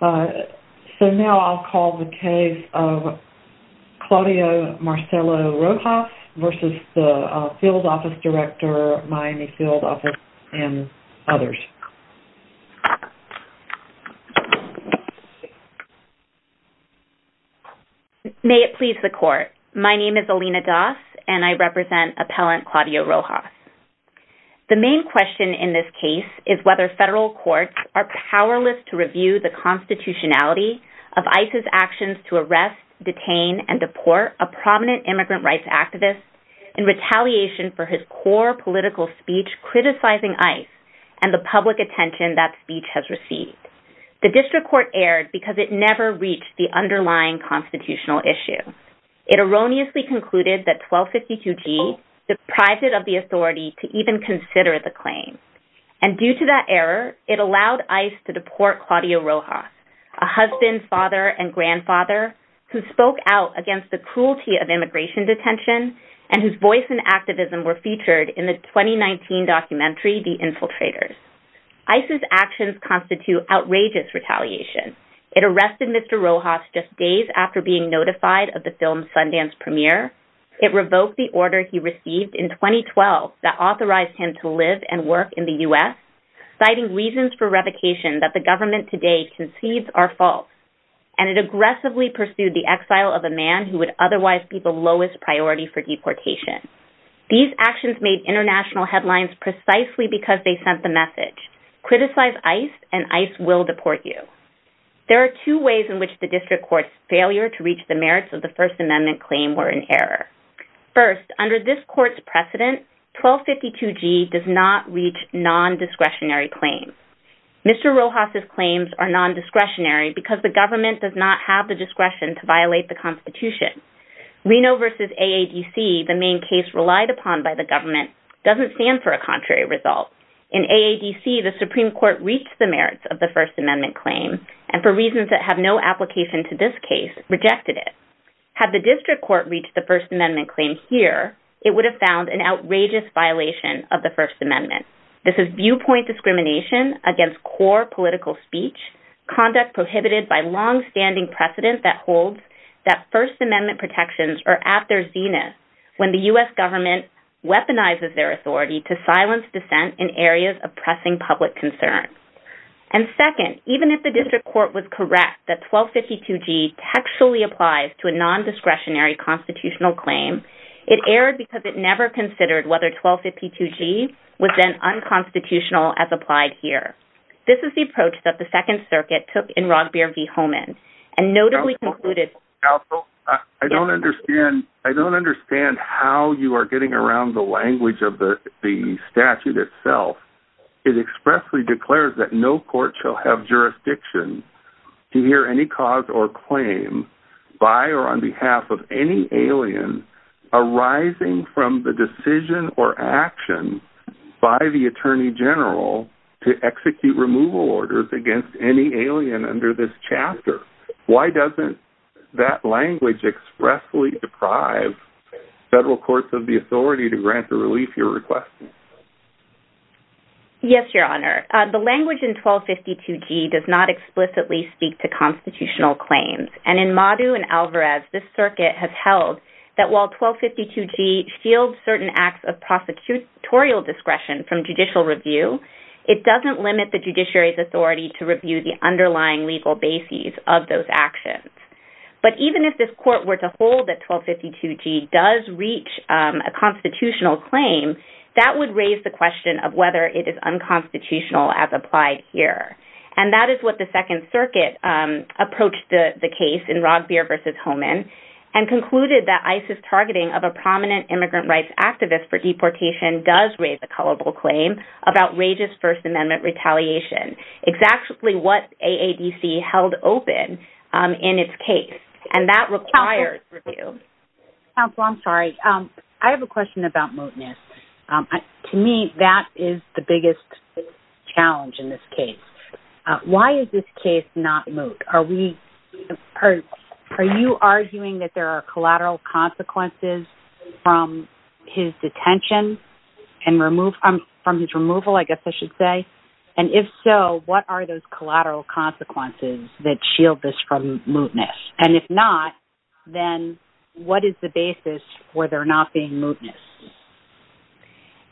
So now I'll call the case of Claudio Marcello Rojas v. Field Office Director, Miami Field Office, and others. May it please the Court. My name is Alina Das and I represent Appellant Claudio Rojas. The main question in this case is whether federal courts are powerless to review the constitutionality of ICE's actions to arrest, detain, and deport a prominent immigrant rights activist in retaliation for his core political speech criticizing ICE and the public attention that speech has received. The district court erred because it never reached the underlying constitutional issue. It erroneously concluded that 1252G deprived it of the authority to even consider the claim. And due to that error, it allowed ICE to deport Claudio Rojas, a husband, father, and grandfather, who spoke out against the cruelty of immigration detention and whose voice and activism were featured in the 2019 documentary, The Infiltrators. ICE's actions constitute outrageous retaliation. It arrested Mr. Rojas just days after being notified of the film Sundance premiere. It revoked the order he received in 2012 that authorized him to live and work in the U.S., citing reasons for revocation that the government today concedes are false. And it aggressively pursued the exile of a man who would otherwise be the lowest priority for deportation. These actions made international headlines precisely because they sent the message, criticize ICE and ICE will deport you. There are two ways in which the district court's failure to reach the merits of the First Amendment claim were in error. First, under this court's precedent, 1252G does not reach non-discretionary claims. Mr. Rojas' claims are non-discretionary because the government does not have the discretion to violate the constitution. Reno v. AADC, the main case relied upon by the government, doesn't stand for a contrary result. In AADC, the Supreme Court reached the merits of the First Amendment claim and for reasons that have no application to this case, rejected it. Had the district court reached the First Amendment claim here, it would have found an outrageous violation of the First Amendment. This is viewpoint discrimination against core political speech, conduct prohibited by long-standing precedent that holds that First Amendment protections are at their zenith when the U.S. government weaponizes their authority to silence dissent in areas of pressing public concern. And second, even if the district court was correct that 1252G textually applies to a non-discretionary constitutional claim, it erred because it never considered whether 1252G was then unconstitutional as applied here. This is the approach that the Second Circuit took in Rogbier v. Holman and notably concluded... Counsel, I don't understand how you are getting around the language of the statute itself. It expressly declares that no court shall have jurisdiction to hear any cause or claim by or on behalf of any alien arising from the decision or action by the Attorney General to execute removal orders against any alien under this chapter. Why doesn't that language expressly deprive federal courts of the authority to grant the relief you're requesting? Yes, Your Honor. The language in 1252G does not explicitly speak to constitutional claims. And in Madu and Alvarez, this circuit has held that while 1252G shields certain acts of prosecutorial discretion from judicial review, it doesn't limit the judiciary's authority to review the underlying legal bases of those actions. But even if this court were to hold that 1252G does reach a constitutional claim, that would raise the question of whether it is unconstitutional as applied here. And that is what the Second Circuit approached the case in Rogbier v. Holman and concluded that ISIS targeting of a prominent immigrant rights activist for deportation does raise a culpable claim of outrageous First Amendment retaliation, exactly what AADC held open in its case. And that requires review. Counsel, I'm sorry. I have a question about mootness. To me, that is the biggest challenge in this case. Why is this case not moot? Are you arguing that there are collateral consequences from his detention and from his removal, I guess I should say? And if so, what are those collateral consequences that shield this from mootness? And if not, then what is the basis for there not being mootness?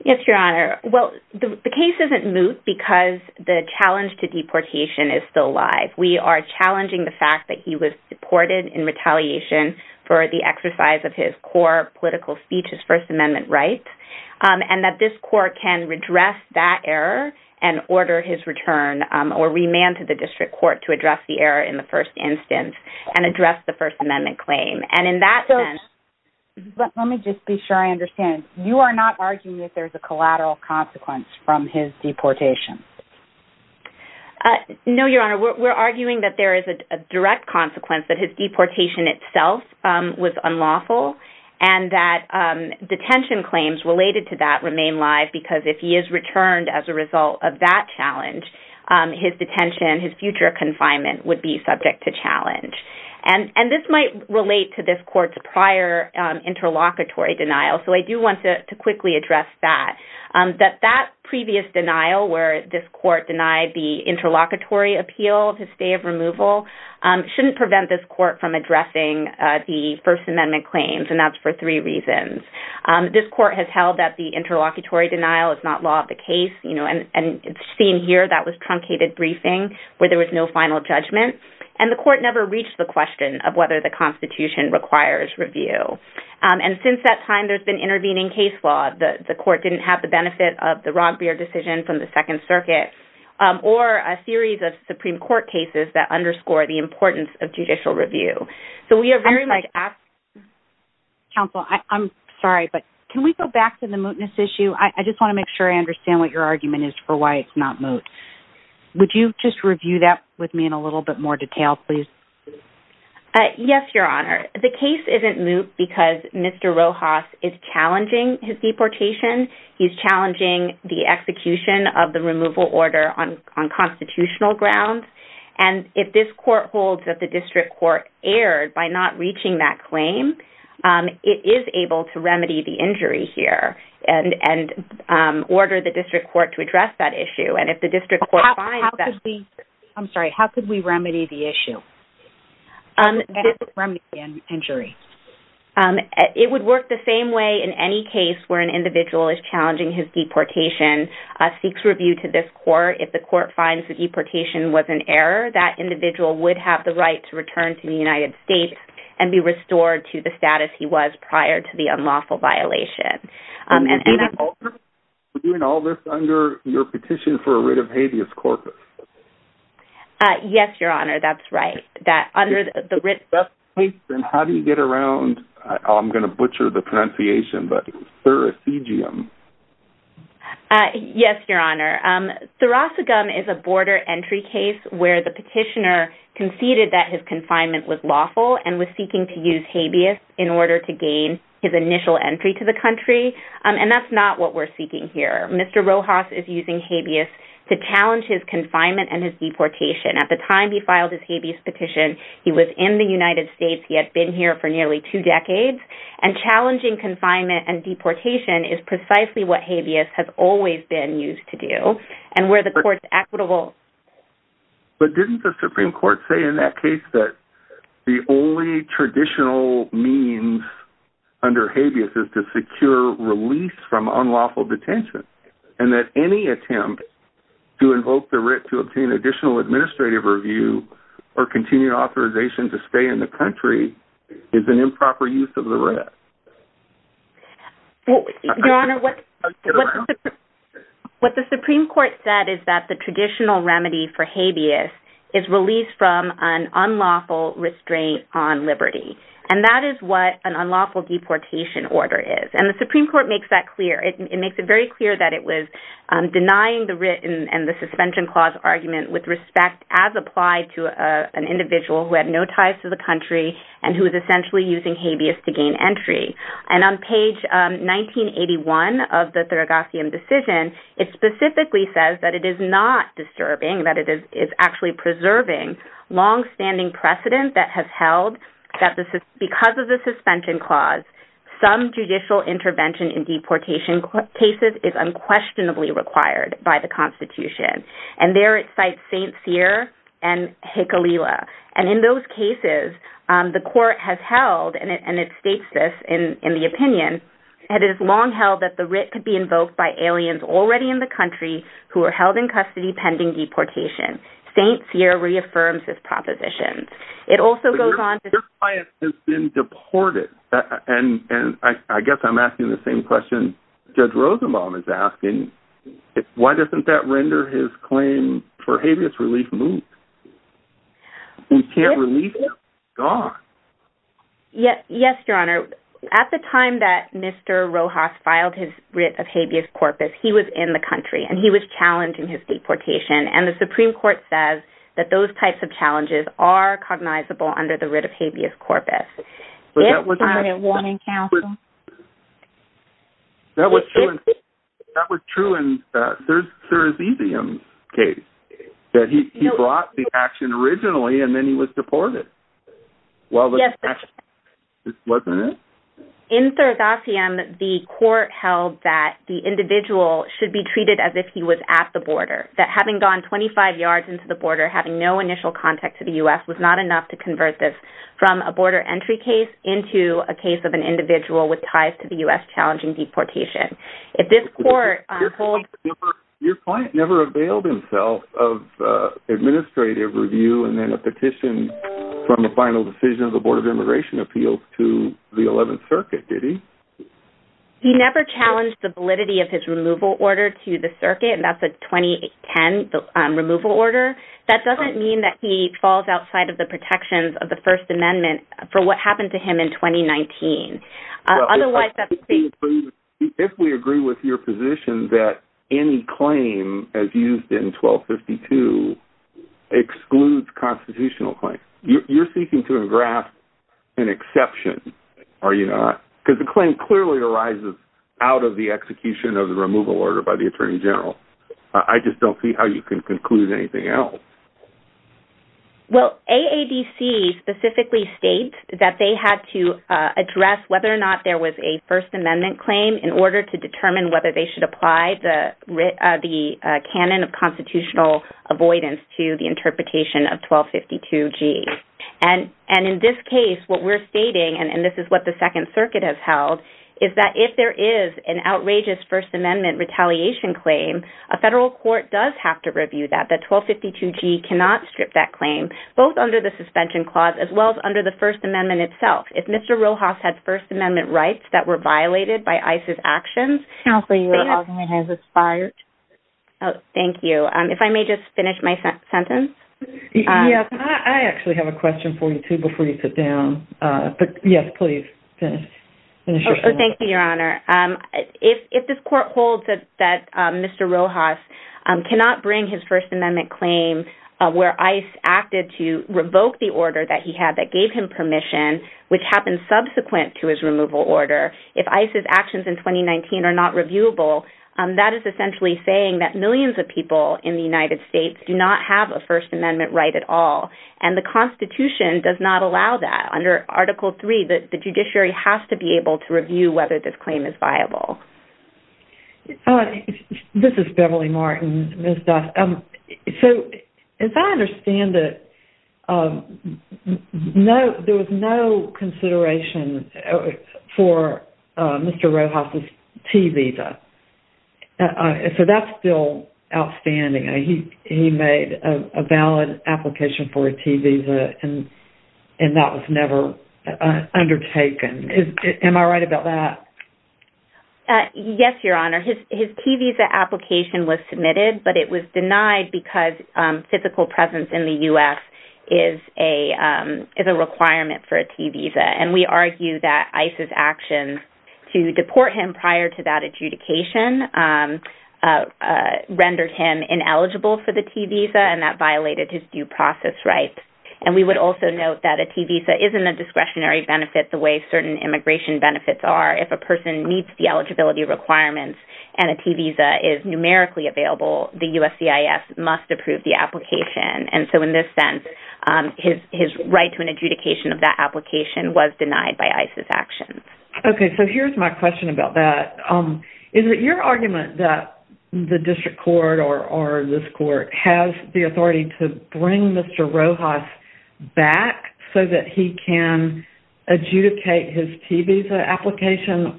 Yes, Your Honor. Well, the case isn't moot because the challenge to deportation is still alive. We are challenging the fact that he was deported in retaliation for the exercise of his core political speech, his First Amendment rights, and that this court can redress that error and order his return or remand to the district court to address the error in the first instance and address the First Amendment claim. Let me just be sure I understand. You are not arguing that there's a collateral consequence from his deportation? No, Your Honor. We're arguing that there is a direct consequence that his deportation itself was unlawful and that detention claims related to that remain live because if he is returned as a result of that challenge, his detention, his future confinement would be subject to challenge. And this might relate to this court's prior interlocutory denial, so I do want to quickly address that, that that previous denial where this court denied the interlocutory appeal to stay of removal shouldn't prevent this court from addressing the First Amendment claims, and that's for three reasons. This court has held that the interlocutory denial is not law of the case, and it's seen here that was truncated briefing where there was no final judgment, and the court never reached the question of whether the Constitution requires review. And since that time, there's been intervening case law. The court didn't have the benefit of the Roggebeer decision from the Second Circuit or a series of Supreme Court cases that underscore the importance of judicial review. So we are very much... Counsel, I'm sorry, but can we go back to the mootness issue? I just want to make sure I understand what your argument is for why it's not moot. Would you just review that with me in a little bit more detail, please? Yes, Your Honor. The case isn't moot because Mr. Rojas is challenging his deportation. He's challenging the execution of the removal order on constitutional grounds. And if this court holds that the district court erred by not reaching that claim, it is able to remedy the injury here and order the district court to address that issue. And if the district court finds that... I'm sorry, how could we remedy the issue? Remedy the injury. It would work the same way in any case where an individual is challenging his deportation, seeks review to this court. If the court finds the deportation was an error, that individual would have the right to return to the United States and be restored to the status he was prior to the unlawful violation. Is it an alternative to doing all this under your petition for a writ of habeas corpus? Yes, Your Honor, that's right. Under the writ of habeas corpus. How do you get around, I'm going to butcher the pronunciation, but thoracegum? Yes, Your Honor. Thoracegum is a border entry case where the petitioner conceded that his confinement was lawful and was seeking to use habeas in order to gain his initial entry to the country. And that's not what we're seeking here. Mr. Rojas is using habeas to challenge his confinement and his deportation. At the time he filed his habeas petition, he was in the United States. He had been here for nearly two decades. And challenging confinement and deportation is precisely what habeas has always been used to do. And where the court's equitable... The only traditional means under habeas is to secure release from unlawful detention. And that any attempt to invoke the writ to obtain additional administrative review or continued authorization to stay in the country is an improper use of the writ. Your Honor, what the Supreme Court said is that the traditional remedy for habeas is release from an unlawful restraint on liberty. And that is what an unlawful deportation order is. And the Supreme Court makes that clear. It makes it very clear that it was denying the writ and the suspension clause argument with respect as applied to an individual who had no ties to the country and who was essentially using habeas to gain entry. And on page 1981 of the Thoracosium decision, it specifically says that it is not disturbing, that it is actually preserving long-standing precedent that has held that because of the suspension clause, some judicial intervention in deportation cases is unquestionably required by the Constitution. And there it cites St. Cyr and Hekalila. And in those cases, the court has held, and it states this in the opinion, that it is long held that the writ could be invoked by aliens already in the country who are held in custody pending deportation. St. Cyr reaffirms this proposition. Your client has been deported. And I guess I'm asking the same question Judge Rosenbaum is asking. Why doesn't that render his claim for habeas relief moot? We can't release him. He's gone. Yes, Your Honor. At the time that Mr. Rojas filed his writ of habeas corpus, he was in the country. And he was challenged in his deportation. And the Supreme Court says that those types of challenges are cognizable under the writ of habeas corpus. But that wasn't true in Sir Azizian's case, that he brought the action originally and then he was deported. Yes, that's correct. Wasn't it? In Sir Azizian, the court held that the individual should be treated as if he was at the border, that having gone 25 yards into the border, having no initial contact to the U.S., was not enough to convert this from a border entry case into a case of an individual with ties to the U.S. challenging deportation. If this court holds— Your client never availed himself of administrative review and then a petition from the final decision of the Board of Immigration Appeals to the 11th Circuit, did he? He never challenged the validity of his removal order to the circuit, and that's a 2010 removal order. That doesn't mean that he falls outside of the protections of the First Amendment for what happened to him in 2019. If we agree with your position that any claim as used in 1252 excludes constitutional claims, you're seeking to engraft an exception, are you not? Because the claim clearly arises out of the execution of the removal order by the Attorney General. I just don't see how you can conclude anything else. Well, AADC specifically states that they had to address whether or not there was a First Amendment claim in order to determine whether they should apply the canon of constitutional avoidance to the interpretation of 1252G. And in this case, what we're stating, and this is what the Second Circuit has held, is that if there is an outrageous First Amendment retaliation claim, a federal court does have to review that, that 1252G cannot strip that claim, both under the suspension clause as well as under the First Amendment itself. If Mr. Rojas had First Amendment rights that were violated by ICE's actions— Counsel, your argument has expired. Thank you. If I may just finish my sentence? Yes, I actually have a question for you, too, before you sit down. Yes, please. Thank you, Your Honour. If this court holds that Mr. Rojas cannot bring his First Amendment claim where ICE acted to revoke the order that he had that gave him permission, which happened subsequent to his removal order, if ICE's actions in 2019 are not reviewable, that is essentially saying that millions of people in the United States do not have a First Amendment right at all, and the Constitution does not allow that. Under Article III, the judiciary has to be able to review whether this claim is viable. This is Beverly Martin. So, as I understand it, there was no consideration for Mr. Rojas' T-visa. So, that's still outstanding. He made a valid application for a T-visa, and that was never undertaken. Am I right about that? Yes, Your Honour. His T-visa application was submitted, but it was denied because physical presence in the U.S. is a requirement for a T-visa. And we argue that ICE's actions to deport him prior to that adjudication rendered him ineligible for the T-visa, and that violated his due process rights. And we would also note that a T-visa isn't a discretionary benefit the way certain immigration benefits are. If a person meets the eligibility requirements and a T-visa is numerically available, the USCIS must approve the application. And so, in this sense, his right to an adjudication of that application was denied by ICE's actions. Okay, so here's my question about that. Is it your argument that the district court or this court has the authority to bring Mr. Rojas back so that he can adjudicate his T-visa application?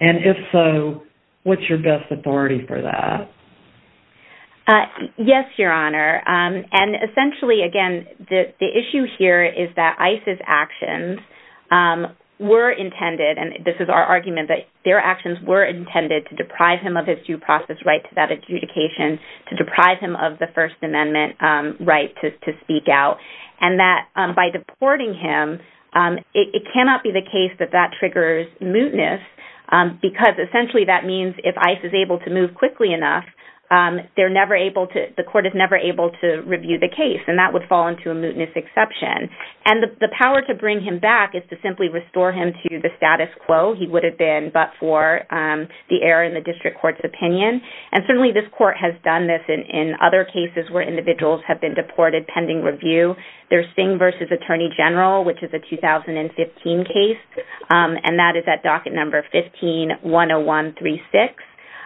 And if so, what's your best authority for that? Yes, Your Honor. And essentially, again, the issue here is that ICE's actions were intended, and this is our argument, that their actions were intended to deprive him of his due process right to that adjudication, to deprive him of the First Amendment right to speak out, and that by deporting him, it cannot be the case that that triggers mootness because essentially that means if ICE is able to move quickly enough, the court is never able to review the case, and that would fall into a mootness exception. And the power to bring him back is to simply restore him to the status quo. He would have been but for the error in the district court's opinion. And certainly this court has done this in other cases where individuals have been deported pending review. There's Singh v. Attorney General, which is a 2015 case, and that is at docket number 15-101-36.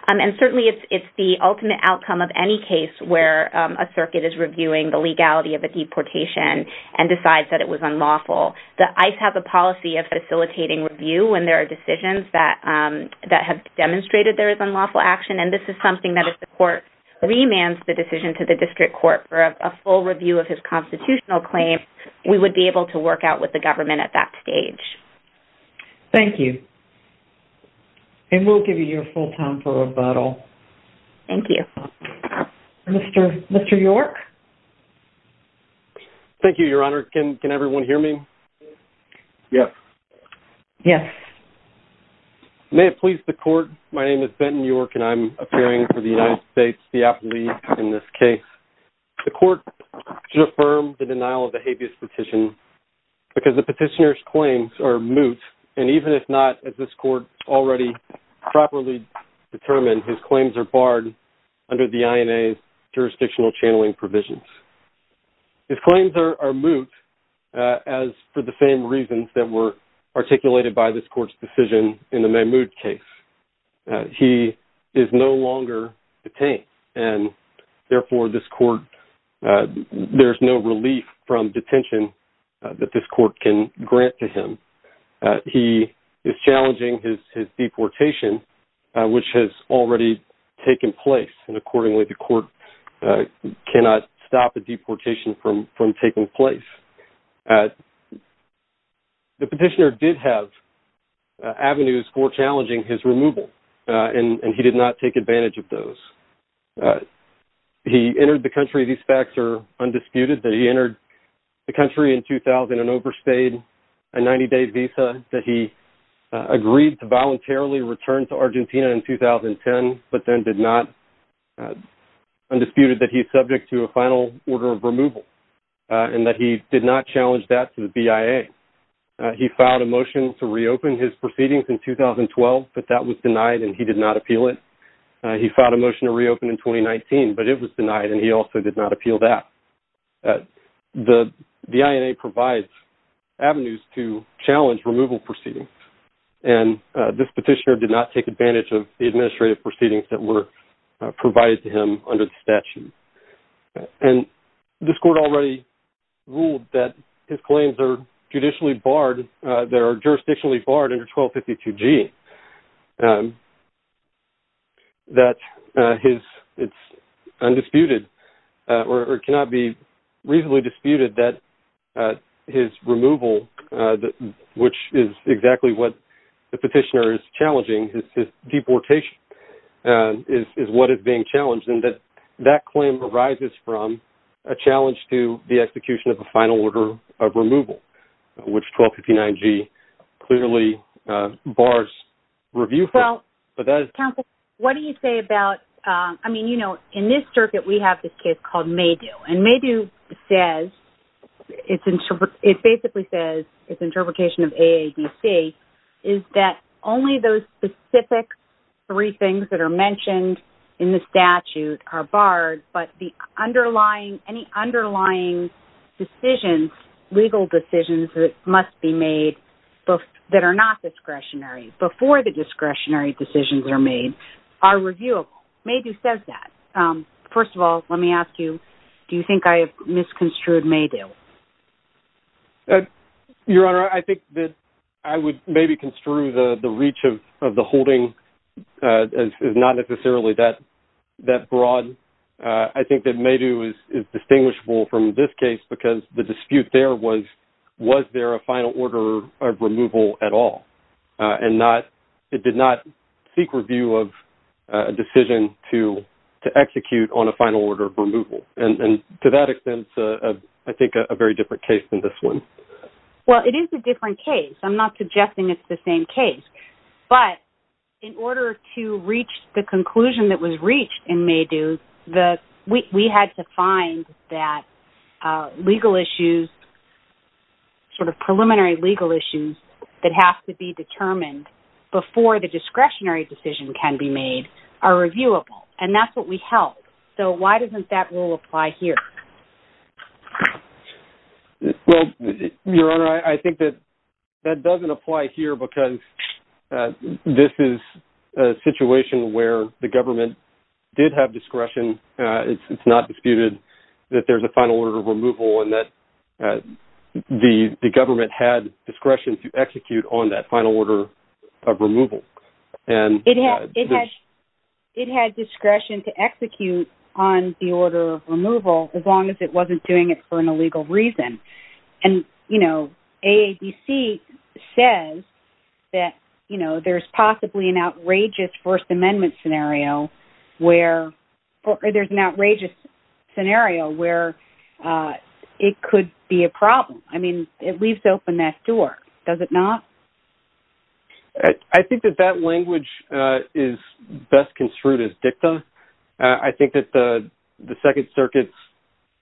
And certainly it's the ultimate outcome of any case where a circuit is reviewing the legality of a deportation and decides that it was unlawful. The ICE has a policy of facilitating review when there are decisions that have demonstrated there is unlawful action, and this is something that if the court remands the decision to the district court for a full review of his constitutional claim, we would be able to work out with the government at that stage. Thank you. And we'll give you your full time for rebuttal. Thank you. Mr. York? Thank you, Your Honor. Can everyone hear me? Yes. Yes. May it please the court, my name is Benton York, and I'm appearing for the United States, the appellee in this case. The court should affirm the denial of the habeas petition because the petitioner's claims are moot, and even if not as this court already properly determined, his claims are barred under the INA's jurisdictional channeling provisions. His claims are moot as for the same reasons that were articulated by this court's decision in the Mahmoud case. He is no longer detained, and therefore there's no relief from detention that this court can grant to him. He is challenging his deportation, which has already taken place, and accordingly the court cannot stop a deportation from taking place. The petitioner did have avenues for challenging his removal, and he did not take advantage of those. He entered the country, these facts are undisputed, that he entered the country in 2000 and overstayed a 90-day visa, that he agreed to voluntarily return to Argentina in 2010, but then did not, undisputed that he is subject to a final order of removal, and that he did not challenge that to the BIA. He filed a motion to reopen his proceedings in 2012, but that was denied and he did not appeal it. He filed a motion to reopen in 2019, but it was denied, and he also did not appeal that. The INA provides avenues to challenge removal proceedings, and this petitioner did not take advantage of the administrative proceedings that were provided to him under the statute. And this court already ruled that his claims are judicially barred, they are jurisdictionally barred under 1252G, that it's undisputed, or it cannot be reasonably disputed, that his removal, which is exactly what the petitioner is challenging, his deportation is what is being challenged, and that that claim arises from a challenge to the execution of a final order of removal, which 1259G clearly bars review from. Well, counsel, what do you say about, I mean, you know, in this circuit we have this case called Maydew, and Maydew says, it basically says, it's interpretation of AADC, is that only those specific three things that are mentioned in the statute are barred, but any underlying decisions, legal decisions, that must be made that are not discretionary, before the discretionary decisions are made, are reviewable. Maydew says that. First of all, let me ask you, do you think I have misconstrued Maydew? Your Honor, I think that I would maybe construe the reach of the holding is not necessarily that broad. I think that Maydew is distinguishable from this case, because the dispute there was, was there a final order of removal at all, and it did not seek review of a decision to execute on a final order of removal, and to that extent, I think, a very different case than this one. Well, it is a different case. I'm not suggesting it's the same case, but in order to reach the conclusion that was reached in Maydew, we had to find that legal issues, sort of preliminary legal issues, that have to be determined before the discretionary decision can be made are reviewable, and that's what we held. So why doesn't that rule apply here? Well, Your Honor, I think that that doesn't apply here, because this is a situation where the government did have discretion. It's not disputed that there's a final order of removal, and that the government had discretion to execute on that final order of removal. It had discretion to execute on the order of removal, as long as it wasn't doing it for an illegal reason. And, you know, AADC says that, you know, there's possibly an outrageous First Amendment scenario where it could be a problem. I mean, it leaves open that door. Does it not? I think that that language is best construed as dicta. I think that the Second Circuit's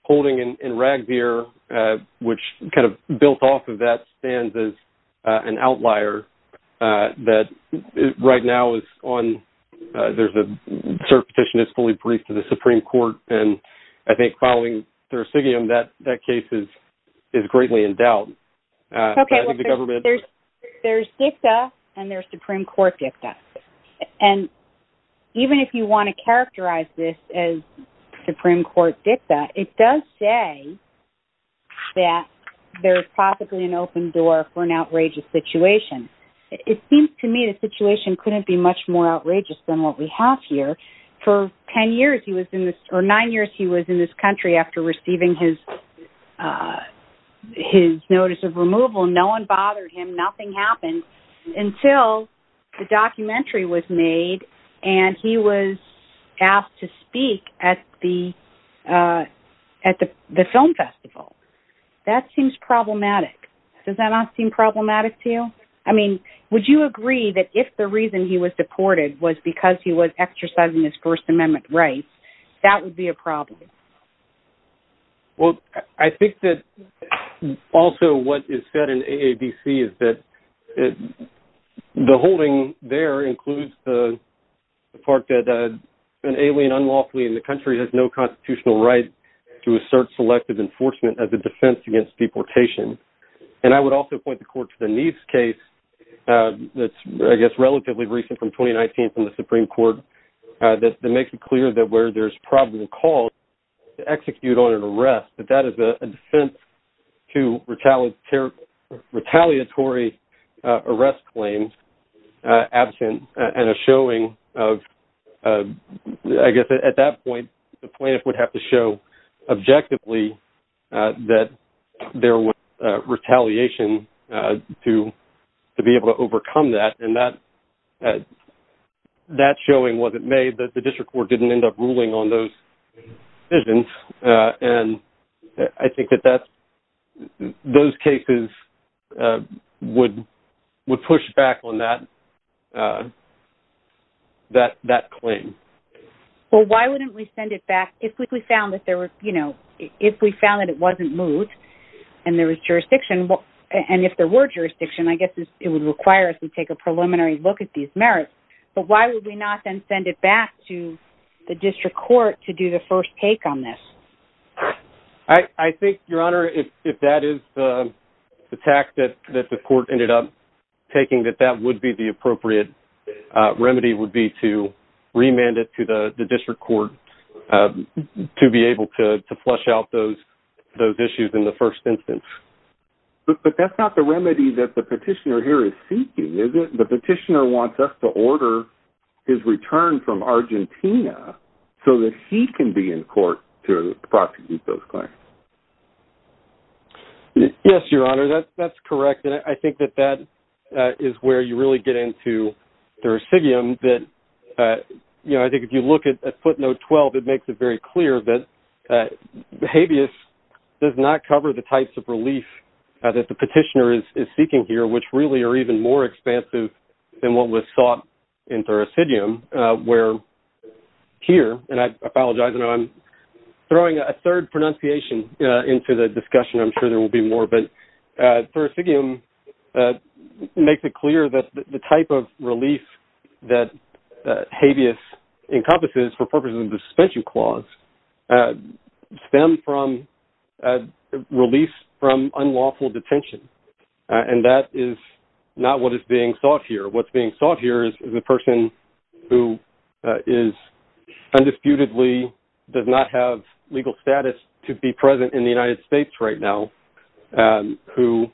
holding in Ragbeer, which kind of built off of that, stands as an outlier that right now is on – there's a cert petition that's fully briefed to the Supreme Court, and I think following Thursigium, that case is greatly in doubt. Okay, well, there's dicta, and there's Supreme Court dicta. And even if you want to characterize this as Supreme Court dicta, it does say that there's possibly an open door for an outrageous situation. It seems to me the situation couldn't be much more outrageous than what we have here. For nine years he was in this country after receiving his notice of removal, no one bothered him, nothing happened until the documentary was made and he was asked to speak at the film festival. That seems problematic. Does that not seem problematic to you? I mean, would you agree that if the reason he was deported was because he was exercising his First Amendment rights, that would be a problem? Well, I think that also what is said in AADC is that the holding there includes the part that an alien unlawfully in the country has no constitutional right to assert selective enforcement as a defense against deportation. And I would also point the court to the Neves case that's, I guess, relatively recent from 2019 from the Supreme Court that makes it clear that where there's probably a call to execute on an arrest, that that is a defense to retaliatory arrest claims absent and a showing of, I guess, at that point the plaintiff would have to show objectively that there was retaliation to be able to overcome that and that showing wasn't made. The district court didn't end up ruling on those decisions and I think that those cases would push back on that claim. Well, why wouldn't we send it back if we found that it wasn't moved and there was jurisdiction, and if there were jurisdiction, I guess it would require us to take a preliminary look at these merits. But why would we not then send it back to the district court to do the first take on this? I think, Your Honor, if that is the tact that the court ended up taking, that that would be the appropriate remedy would be to remand it to the district court to be able to flush out those issues in the first instance. But that's not the remedy that the petitioner here is seeking, is it? The petitioner wants us to order his return from Argentina so that he can be in court to prosecute those claims. Yes, Your Honor, that's correct, and I think that that is where you really get into the resignum. I think if you look at footnote 12, it makes it very clear that habeas does not cover the types of relief that the petitioner is seeking here, which really are even more expansive than what was sought in thoracidium, where here, and I apologize, I know I'm throwing a third pronunciation into the discussion. I'm sure there will be more, but thoracidium makes it clear that the type of relief that habeas encompasses for purposes of the suspension clause stem from a release from unlawful detention, and that is not what is being sought here. What's being sought here is a person who is undisputedly does not have legal status to be present in the United States right now, who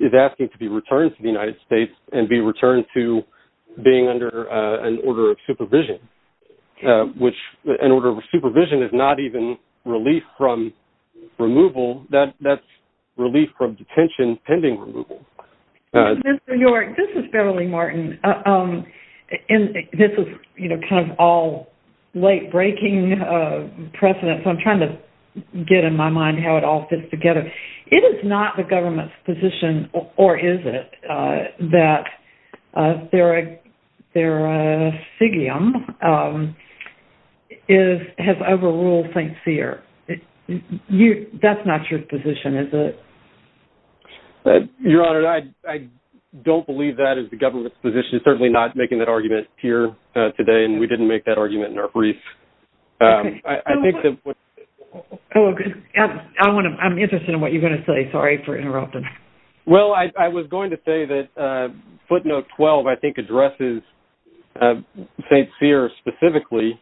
is asking to be returned to the United States and be returned to being under an order of supervision, which an order of supervision is not even relief from removal. That's relief from detention pending removal. Ms. New York, this is Beverly Martin, and this is kind of all late-breaking precedent, so I'm trying to get in my mind how it all fits together. It is not the government's position, or is it, that theracidium has overruled St. Cyr. That's not your position, is it? Your Honor, I don't believe that is the government's position. It's certainly not making that argument here today, and we didn't make that argument in our brief. I'm interested in what you're going to say. Sorry for interrupting. Well, I was going to say that footnote 12, I think, addresses St. Cyr specifically,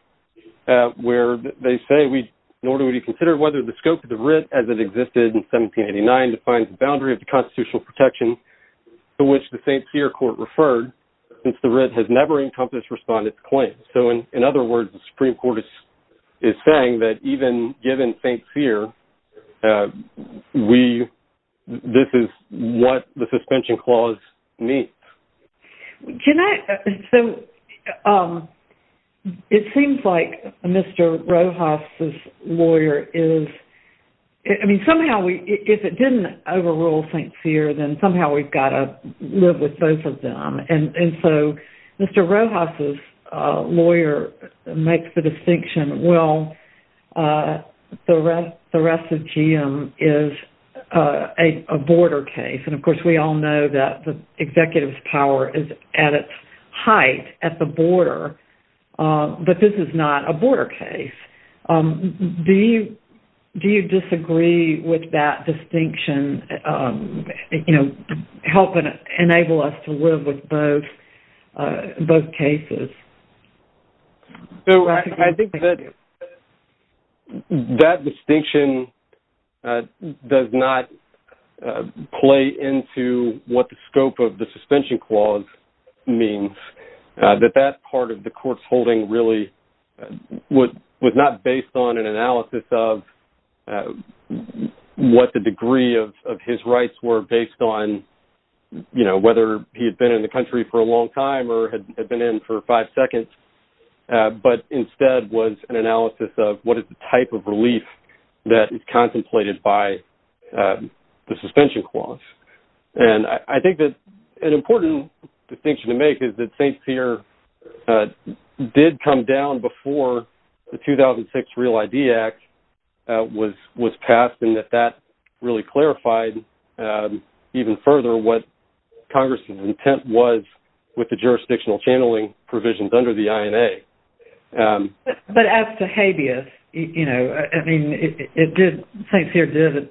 where they say, nor do we consider whether the scope of the writ as it existed in 1789 defines the boundary of the constitutional protection to which the St. Cyr court referred, since the writ has never encompassed respondent's claims. So, in other words, the Supreme Court is saying that even given St. Cyr, this is what the suspension clause means. So, it seems like Mr. Rojas's lawyer is, I mean, somehow, if it didn't overrule St. Cyr, then somehow we've got to live with both of them. And so, Mr. Rojas's lawyer makes the distinction, well, theracidium is a border case, and, of course, we all know that the executive's power is at its height at the border, but this is not a border case. Do you disagree with that distinction helping enable us to live with both cases? So, I think that that distinction does not play into what the scope of the suspension clause means, that that part of the court's holding really was not based on an analysis of what the degree of his rights were or based on, you know, whether he had been in the country for a long time or had been in for five seconds, but instead was an analysis of what is the type of relief that is contemplated by the suspension clause. And I think that an important distinction to make is that St. Cyr did come down before the 2006 Real ID Act was passed and that that really clarified even further what Congress's intent was with the jurisdictional channeling provisions under the INA. But as to habeas, you know, I mean, St. Cyr did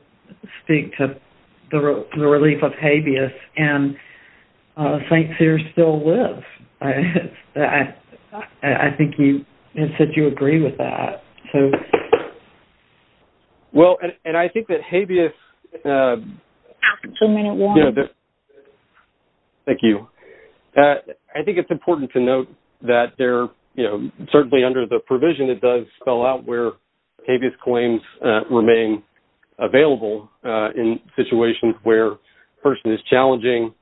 speak to the relief of habeas, and St. Cyr still lives. I think you said you agree with that. Well, and I think that habeas... Thank you. I think it's important to note that there, you know, certainly under the provision it does spell out where habeas claims remain available in situations where a person is challenging,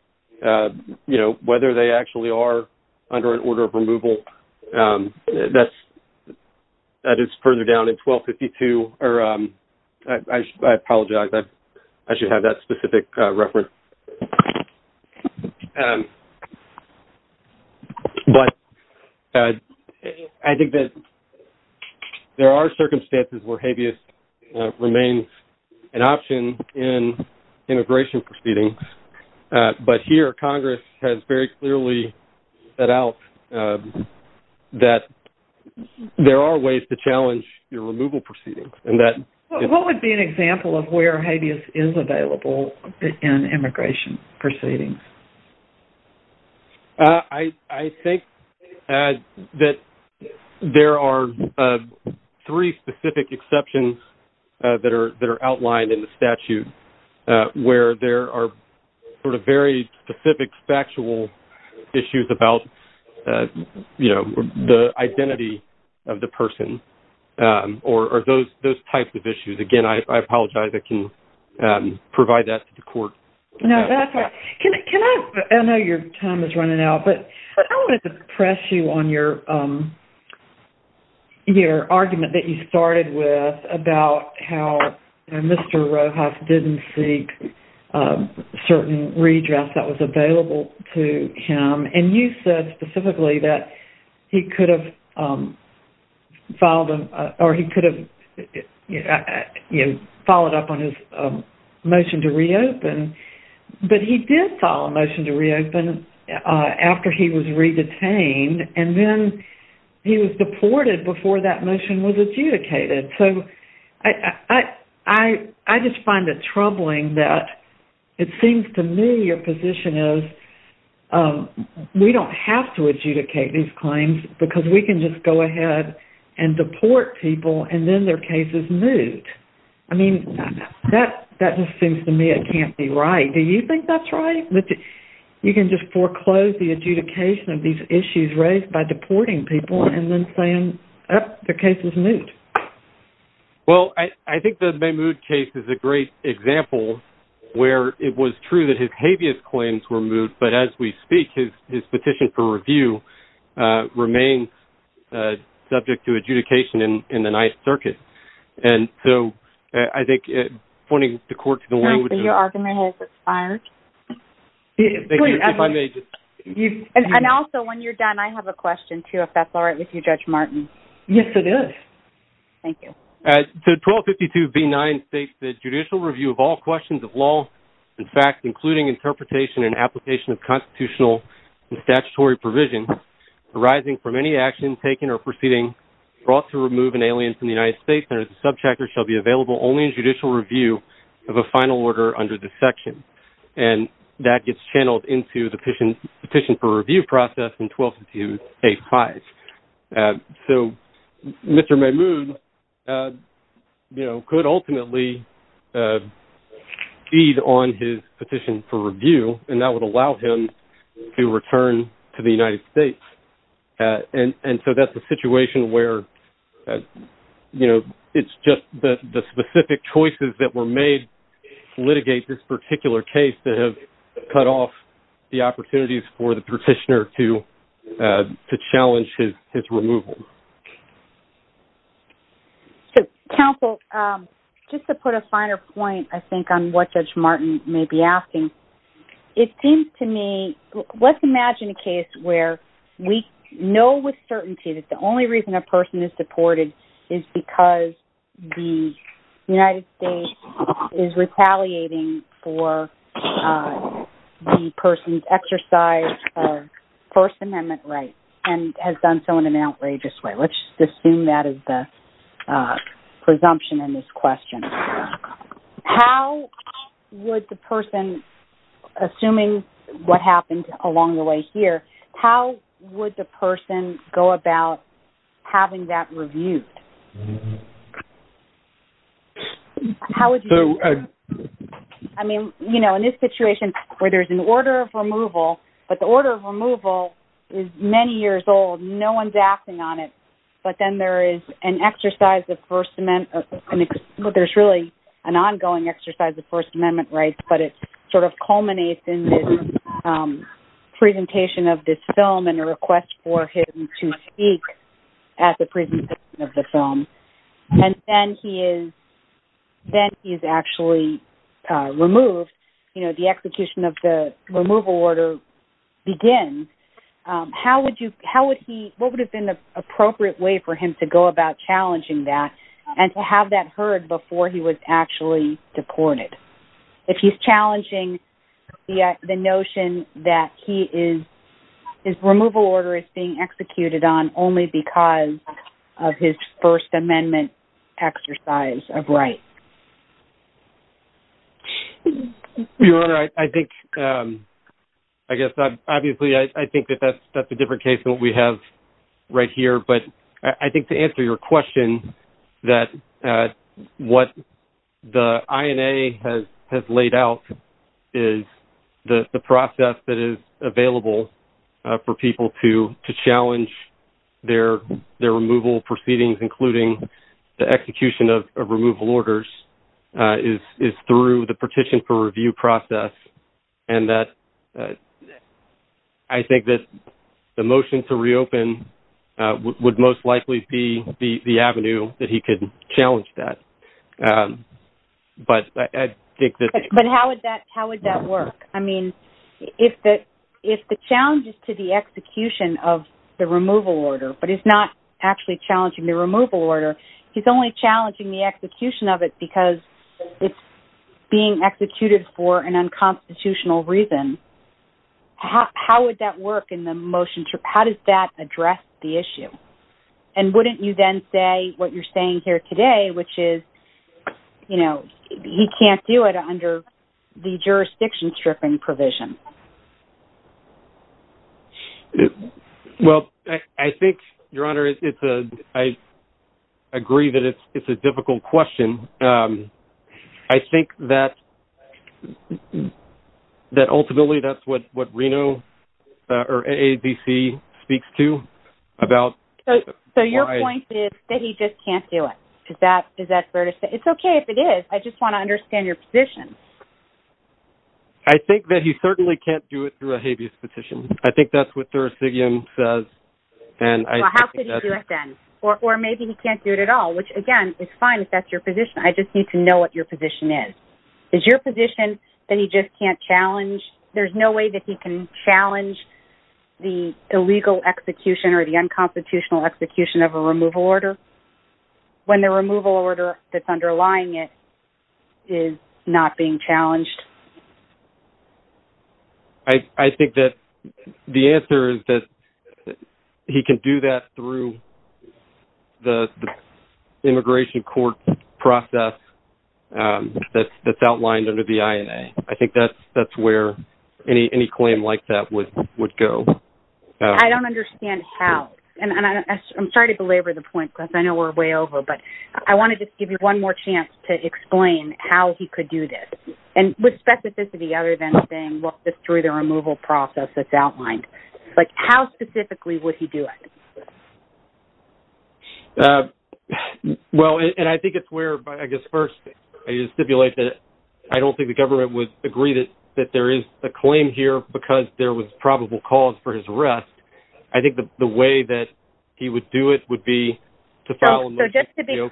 you know, whether they actually are under an order of removal. That is further down in 1252, or I apologize. I should have that specific reference. But I think that there are circumstances where habeas remains an option in immigration proceedings. But here Congress has very clearly set out that there are ways to challenge your removal proceedings. What would be an example of where habeas is available in immigration proceedings? I think that there are three specific exceptions that are outlined in the statute where there are sort of very specific factual issues about, you know, the identity of the person or those types of issues. Again, I apologize. I can provide that to the court. No, that's all right. I know your time is running out, but I wanted to press you on your argument that you started with about how Mr. Rojas didn't seek certain redress that was available to him. And you said specifically that he could have followed up on his motion to reopen, but he did follow a motion to reopen after he was re-detained, and then he was deported before that motion was adjudicated. So I just find it troubling that it seems to me your position is we don't have to adjudicate these claims because we can just go ahead and deport people and then their case is moved. I mean, that just seems to me it can't be right. Do you think that's right, that you can just foreclose the adjudication of these issues raised by deporting people and then say, oh, their case is moved? Well, I think the Mahmoud case is a great example where it was true that his habeas claims were moved, but as we speak, his petition for review remains subject to adjudication in the Ninth Circuit. And so I think pointing the court to the way in which... Your argument has expired. Thank you. If I may just... And also, when you're done, I have a question, too, if that's all right with you, Judge Martin. Yes, it is. Thank you. So 1252B9 states that judicial review of all questions of law and facts, including interpretation and application of constitutional and statutory provisions arising from any action taken or proceeding brought to remove an alien from the United States under the Subchapter shall be available only in judicial review of a final order under this section. And that gets channeled into the petition for review process in 1252A5. So Mr. Mahmoud, you know, could ultimately feed on his petition for review, and that would allow him to return to the United States. And so that's a situation where, you know, it's just the specific choices that were made to litigate this particular case that have cut off the opportunities for the petitioner to challenge his removal. So, counsel, just to put a finer point, I think, on what Judge Martin may be asking, it seems to me... Let's imagine a case where we know with certainty that the only reason a person is deported is because the United States is retaliating for the person's exercise of First Amendment rights and has done so in an outrageous way. Let's just assume that is the presumption in this question. How would the person, assuming what happened along the way here, how would the person go about having that reviewed? How would you do that? I mean, you know, in this situation where there's an order of removal, but the order of removal is many years old. No one's acting on it. But then there is an exercise of First Amendment... There's really an ongoing exercise of First Amendment rights, but it sort of culminates in this presentation of this film and a request for him to speak at the presentation of the film. And then he is actually removed. And then as the execution of the removal order begins, what would have been the appropriate way for him to go about challenging that and to have that heard before he was actually deported? If he's challenging the notion that his removal order is being executed on only because of his First Amendment exercise of right. Your Honor, I think, I guess, obviously, I think that that's a different case than what we have right here. But I think to answer your question, that what the INA has laid out is the process that is available for people to challenge their removal proceedings, including the execution of removal orders, is through the petition for review process. And I think that the motion to reopen would most likely be the avenue that he could challenge that. But I think that... But how would that work? I mean, if the challenge is to the execution of the removal order, but he's not actually challenging the removal order. He's only challenging the execution of it because it's being executed for an unconstitutional reason. How would that work in the motion? How does that address the issue? And wouldn't you then say what you're saying here today, which is, you know, he can't do it under the jurisdiction stripping provision? Well, I think, Your Honor, I agree that it's a difficult question. I think that ultimately that's what Reno or AADC speaks to about why... Is that fair to say? It's okay if it is. I just want to understand your position. I think that he certainly can't do it through a habeas petition. I think that's what Thursigian says. Well, how could he do it then? Or maybe he can't do it at all, which, again, is fine if that's your position. I just need to know what your position is. Is your position that he just can't challenge? There's no way that he can challenge the illegal execution or the unconstitutional execution of a removal order when the removal order that's underlying it is not being challenged? I think that the answer is that he can do that through the immigration court process that's outlined under the INA. I think that's where any claim like that would go. I don't understand how. I'm sorry to belabor the point because I know we're way over, but I wanted to give you one more chance to explain how he could do this, with specificity other than saying, well, it's through the removal process that's outlined. How specifically would he do it? Well, and I think it's where, I guess, first, I stipulate that I don't think the government would agree that there is a claim here because there was probable cause for his arrest. I think the way that he would do it would be to file a motion to deal with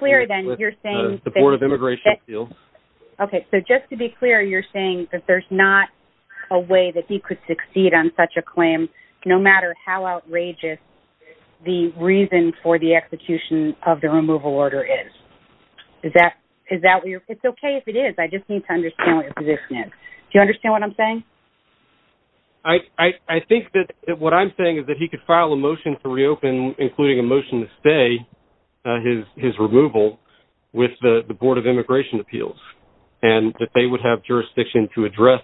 the Board of Immigration Appeals. Okay, so just to be clear, you're saying that there's not a way that he could succeed on such a claim no matter how outrageous the reason for the execution of the removal order is. Is that what you're – it's okay if it is. I just need to understand what your position is. Do you understand what I'm saying? I think that what I'm saying is that he could file a motion to reopen, including a motion to stay his removal with the Board of Immigration Appeals, and that they would have jurisdiction to address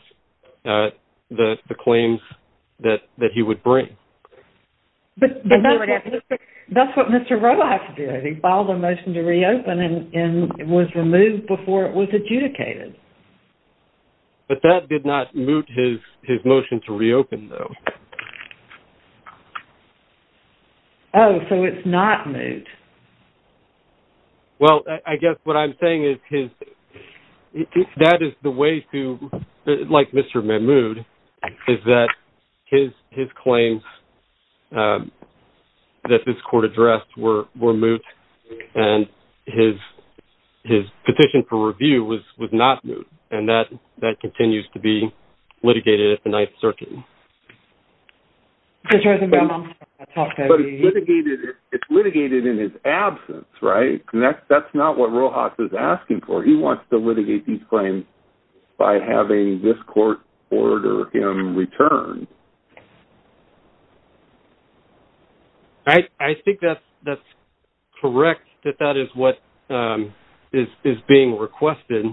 the claims that he would bring. But that's what Mr. Rowe has to do. He filed a motion to reopen, and it was removed before it was adjudicated. But that did not moot his motion to reopen, though. Oh, so it's not moot. Well, I guess what I'm saying is that is the way to – like Mr. Mahmoud, is that his claims that this court addressed were moot, and his petition for review was not moot, and that continues to be litigated at the Ninth Circuit. But it's litigated in his absence, right? That's not what Rowe Haas is asking for. He wants to litigate these claims by having this court order him returned. I think that's correct, that that is what is being requested,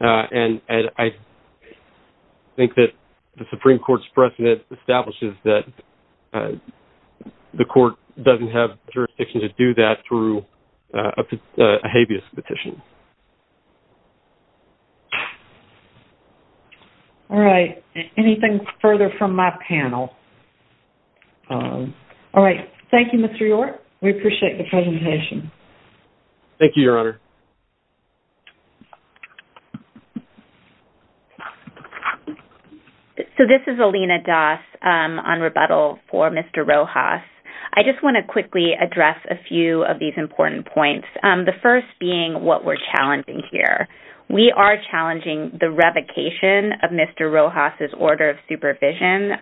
and I think that the Supreme Court's precedent establishes that the court doesn't have jurisdiction to do that through a habeas petition. All right. Anything further from my panel? All right. Thank you, Mr. York. We appreciate the presentation. Thank you, Your Honor. So this is Alina Das on rebuttal for Mr. Rowe Haas. I just want to quickly address a few of these important points, the first being what we're challenging here. We are challenging the revocation of Mr. Rowe Haas's order of supervision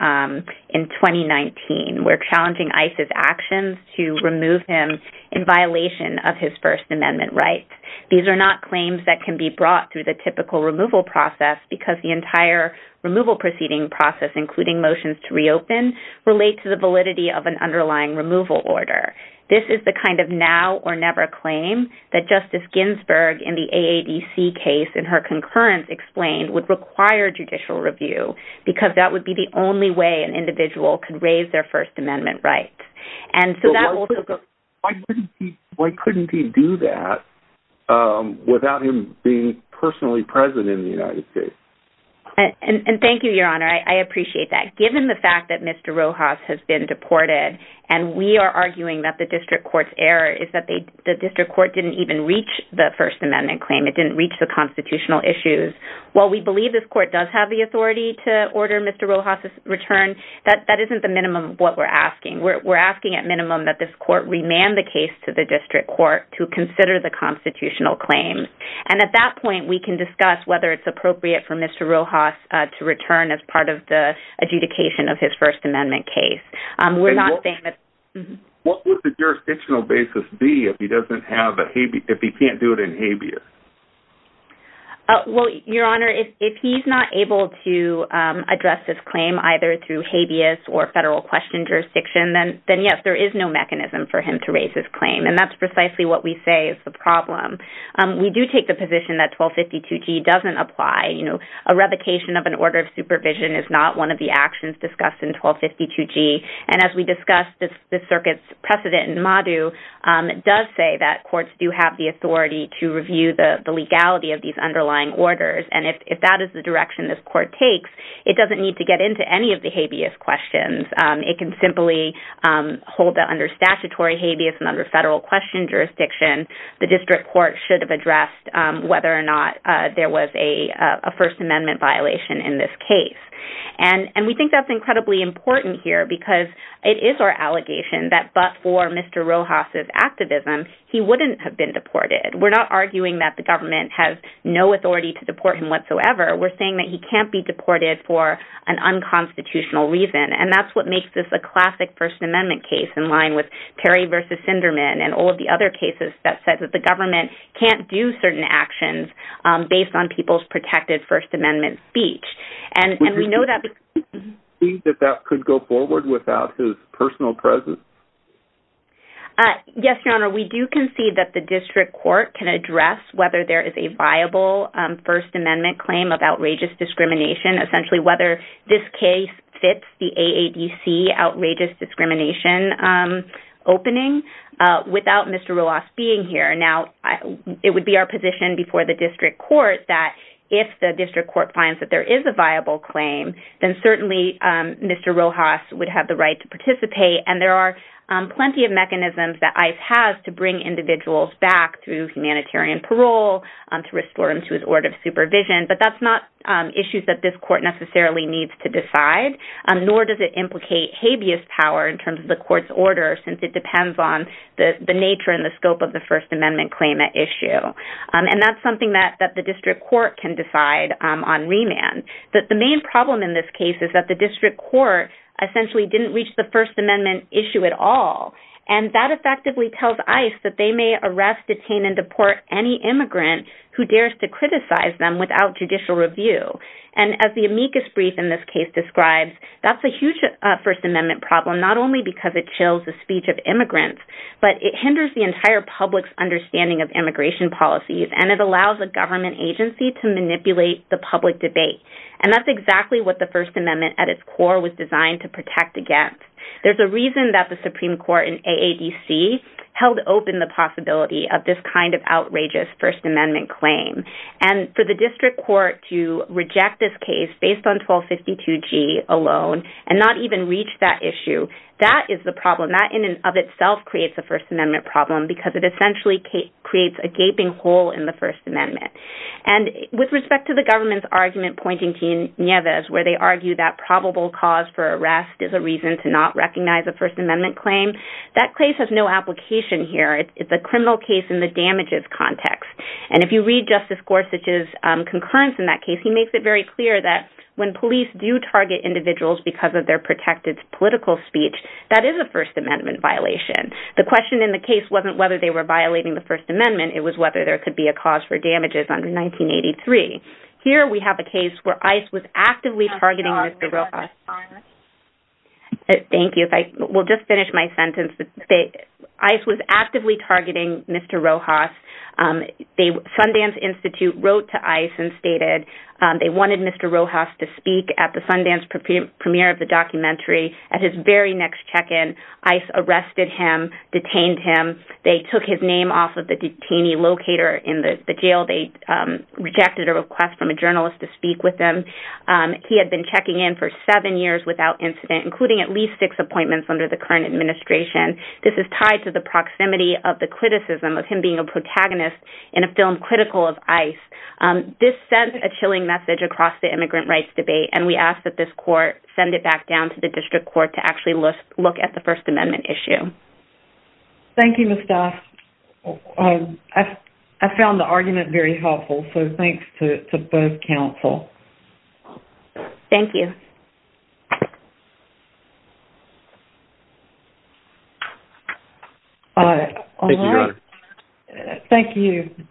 in 2019. We're challenging ICE's actions to remove him in violation of his First Amendment rights. These are not claims that can be brought through the typical removal process because the entire removal proceeding process, including motions to reopen, relate to the validity of an underlying removal order. This is the kind of now-or-never claim that Justice Ginsburg in the AADC case in her concurrence explained would require judicial review because that would be the only way an individual could raise their First Amendment rights. Why couldn't he do that without him being personally present in the United States? And thank you, Your Honor. I appreciate that. Given the fact that Mr. Rowe Haas has been deported and we are arguing that the district court's error is that the district court didn't even reach the First Amendment claim. It didn't reach the constitutional issues. While we believe this court does have the authority to order Mr. Rowe Haas's return, that isn't the minimum of what we're asking. We're asking at minimum that this court remand the case to the district court to consider the constitutional claim. And at that point, we can discuss whether it's appropriate for Mr. Rowe Haas to return as part of the adjudication of his First Amendment case. What would the jurisdictional basis be if he can't do it in habeas? Well, Your Honor, if he's not able to address his claim either through habeas or federal question jurisdiction, then yes, there is no mechanism for him to raise his claim. And that's precisely what we say is the problem. We do take the position that 1252G doesn't apply. A revocation of an order of supervision is not one of the actions discussed in 1252G. And as we discussed, the circuit's precedent in MADU does say that courts do have the authority to review the legality of these underlying orders. And if that is the direction this court takes, it doesn't need to get into any of the habeas questions. It can simply hold that under statutory habeas and under federal question jurisdiction, the district court should have addressed whether or not there was a First Amendment violation in this case. And we think that's incredibly important here because it is our allegation that but for Mr. Rowe Haas' activism, he wouldn't have been deported. We're not arguing that the government has no authority to deport him whatsoever. We're saying that he can't be deported for an unconstitutional reason. And that's what makes this a classic First Amendment case in line with Perry v. Sinderman and all of the other cases that said that the government can't do certain actions based on people's protected First Amendment speech. And we know that because- Would you concede that that could go forward without his personal presence? Yes, Your Honor, we do concede that the district court can address whether there is a viable First Amendment claim of outrageous discrimination, essentially whether this case fits the AADC outrageous discrimination opening, without Mr. Rowe Haas being here. Now, it would be our position before the district court that if the district court finds that there is a viable claim, then certainly Mr. Rowe Haas would have the right to participate. And there are plenty of mechanisms that ICE has to bring individuals back through humanitarian parole, to restore them to his order of supervision. But that's not issues that this court necessarily needs to decide, nor does it implicate habeas power in terms of the court's order, since it depends on the nature and the scope of the First Amendment claim at issue. And that's something that the district court can decide on remand. But the main problem in this case is that the district court essentially didn't reach the First Amendment issue at all. And that effectively tells ICE that they may arrest, detain, and deport any immigrant who dares to criticize them without judicial review. And as the amicus brief in this case describes, that's a huge First Amendment problem, not only because it chills the speech of immigrants, but it hinders the entire public's understanding of immigration policies, and it allows a government agency to manipulate the public debate. And that's exactly what the First Amendment at its core was designed to protect against. There's a reason that the Supreme Court in AADC held open the possibility of this kind of outrageous First Amendment claim. And for the district court to reject this case based on 1252G alone and not even reach that issue, that is the problem. That in and of itself creates a First Amendment problem because it essentially creates a gaping hole in the First Amendment. And with respect to the government's argument pointing to Nieves, where they argue that probable cause for arrest is a reason to not recognize a First Amendment claim, that case has no application here. It's a criminal case in the damages context. And if you read Justice Gorsuch's concurrence in that case, he makes it very clear that when police do target individuals because of their protected political speech, that is a First Amendment violation. The question in the case wasn't whether they were violating the First Amendment. It was whether there could be a cause for damages under 1983. Thank you. We'll just finish my sentence. ICE was actively targeting Mr. Rojas. Sundance Institute wrote to ICE and stated they wanted Mr. Rojas to speak at the Sundance premiere of the documentary. At his very next check-in, ICE arrested him, detained him. They took his name off of the detainee locator in the jail. They rejected a request from a journalist to speak with him. He had been checking in for seven years without incident, including at least six appointments under the current administration. This is tied to the proximity of the criticism of him being a protagonist in a film critical of ICE. This sent a chilling message across the immigrant rights debate, and we ask that this court send it back down to the district court to actually look at the First Amendment issue. Thank you, Ms. Doss. I found the argument very helpful, so thanks to both counsel. Thank you. Thank you, Your Honor. Thank you.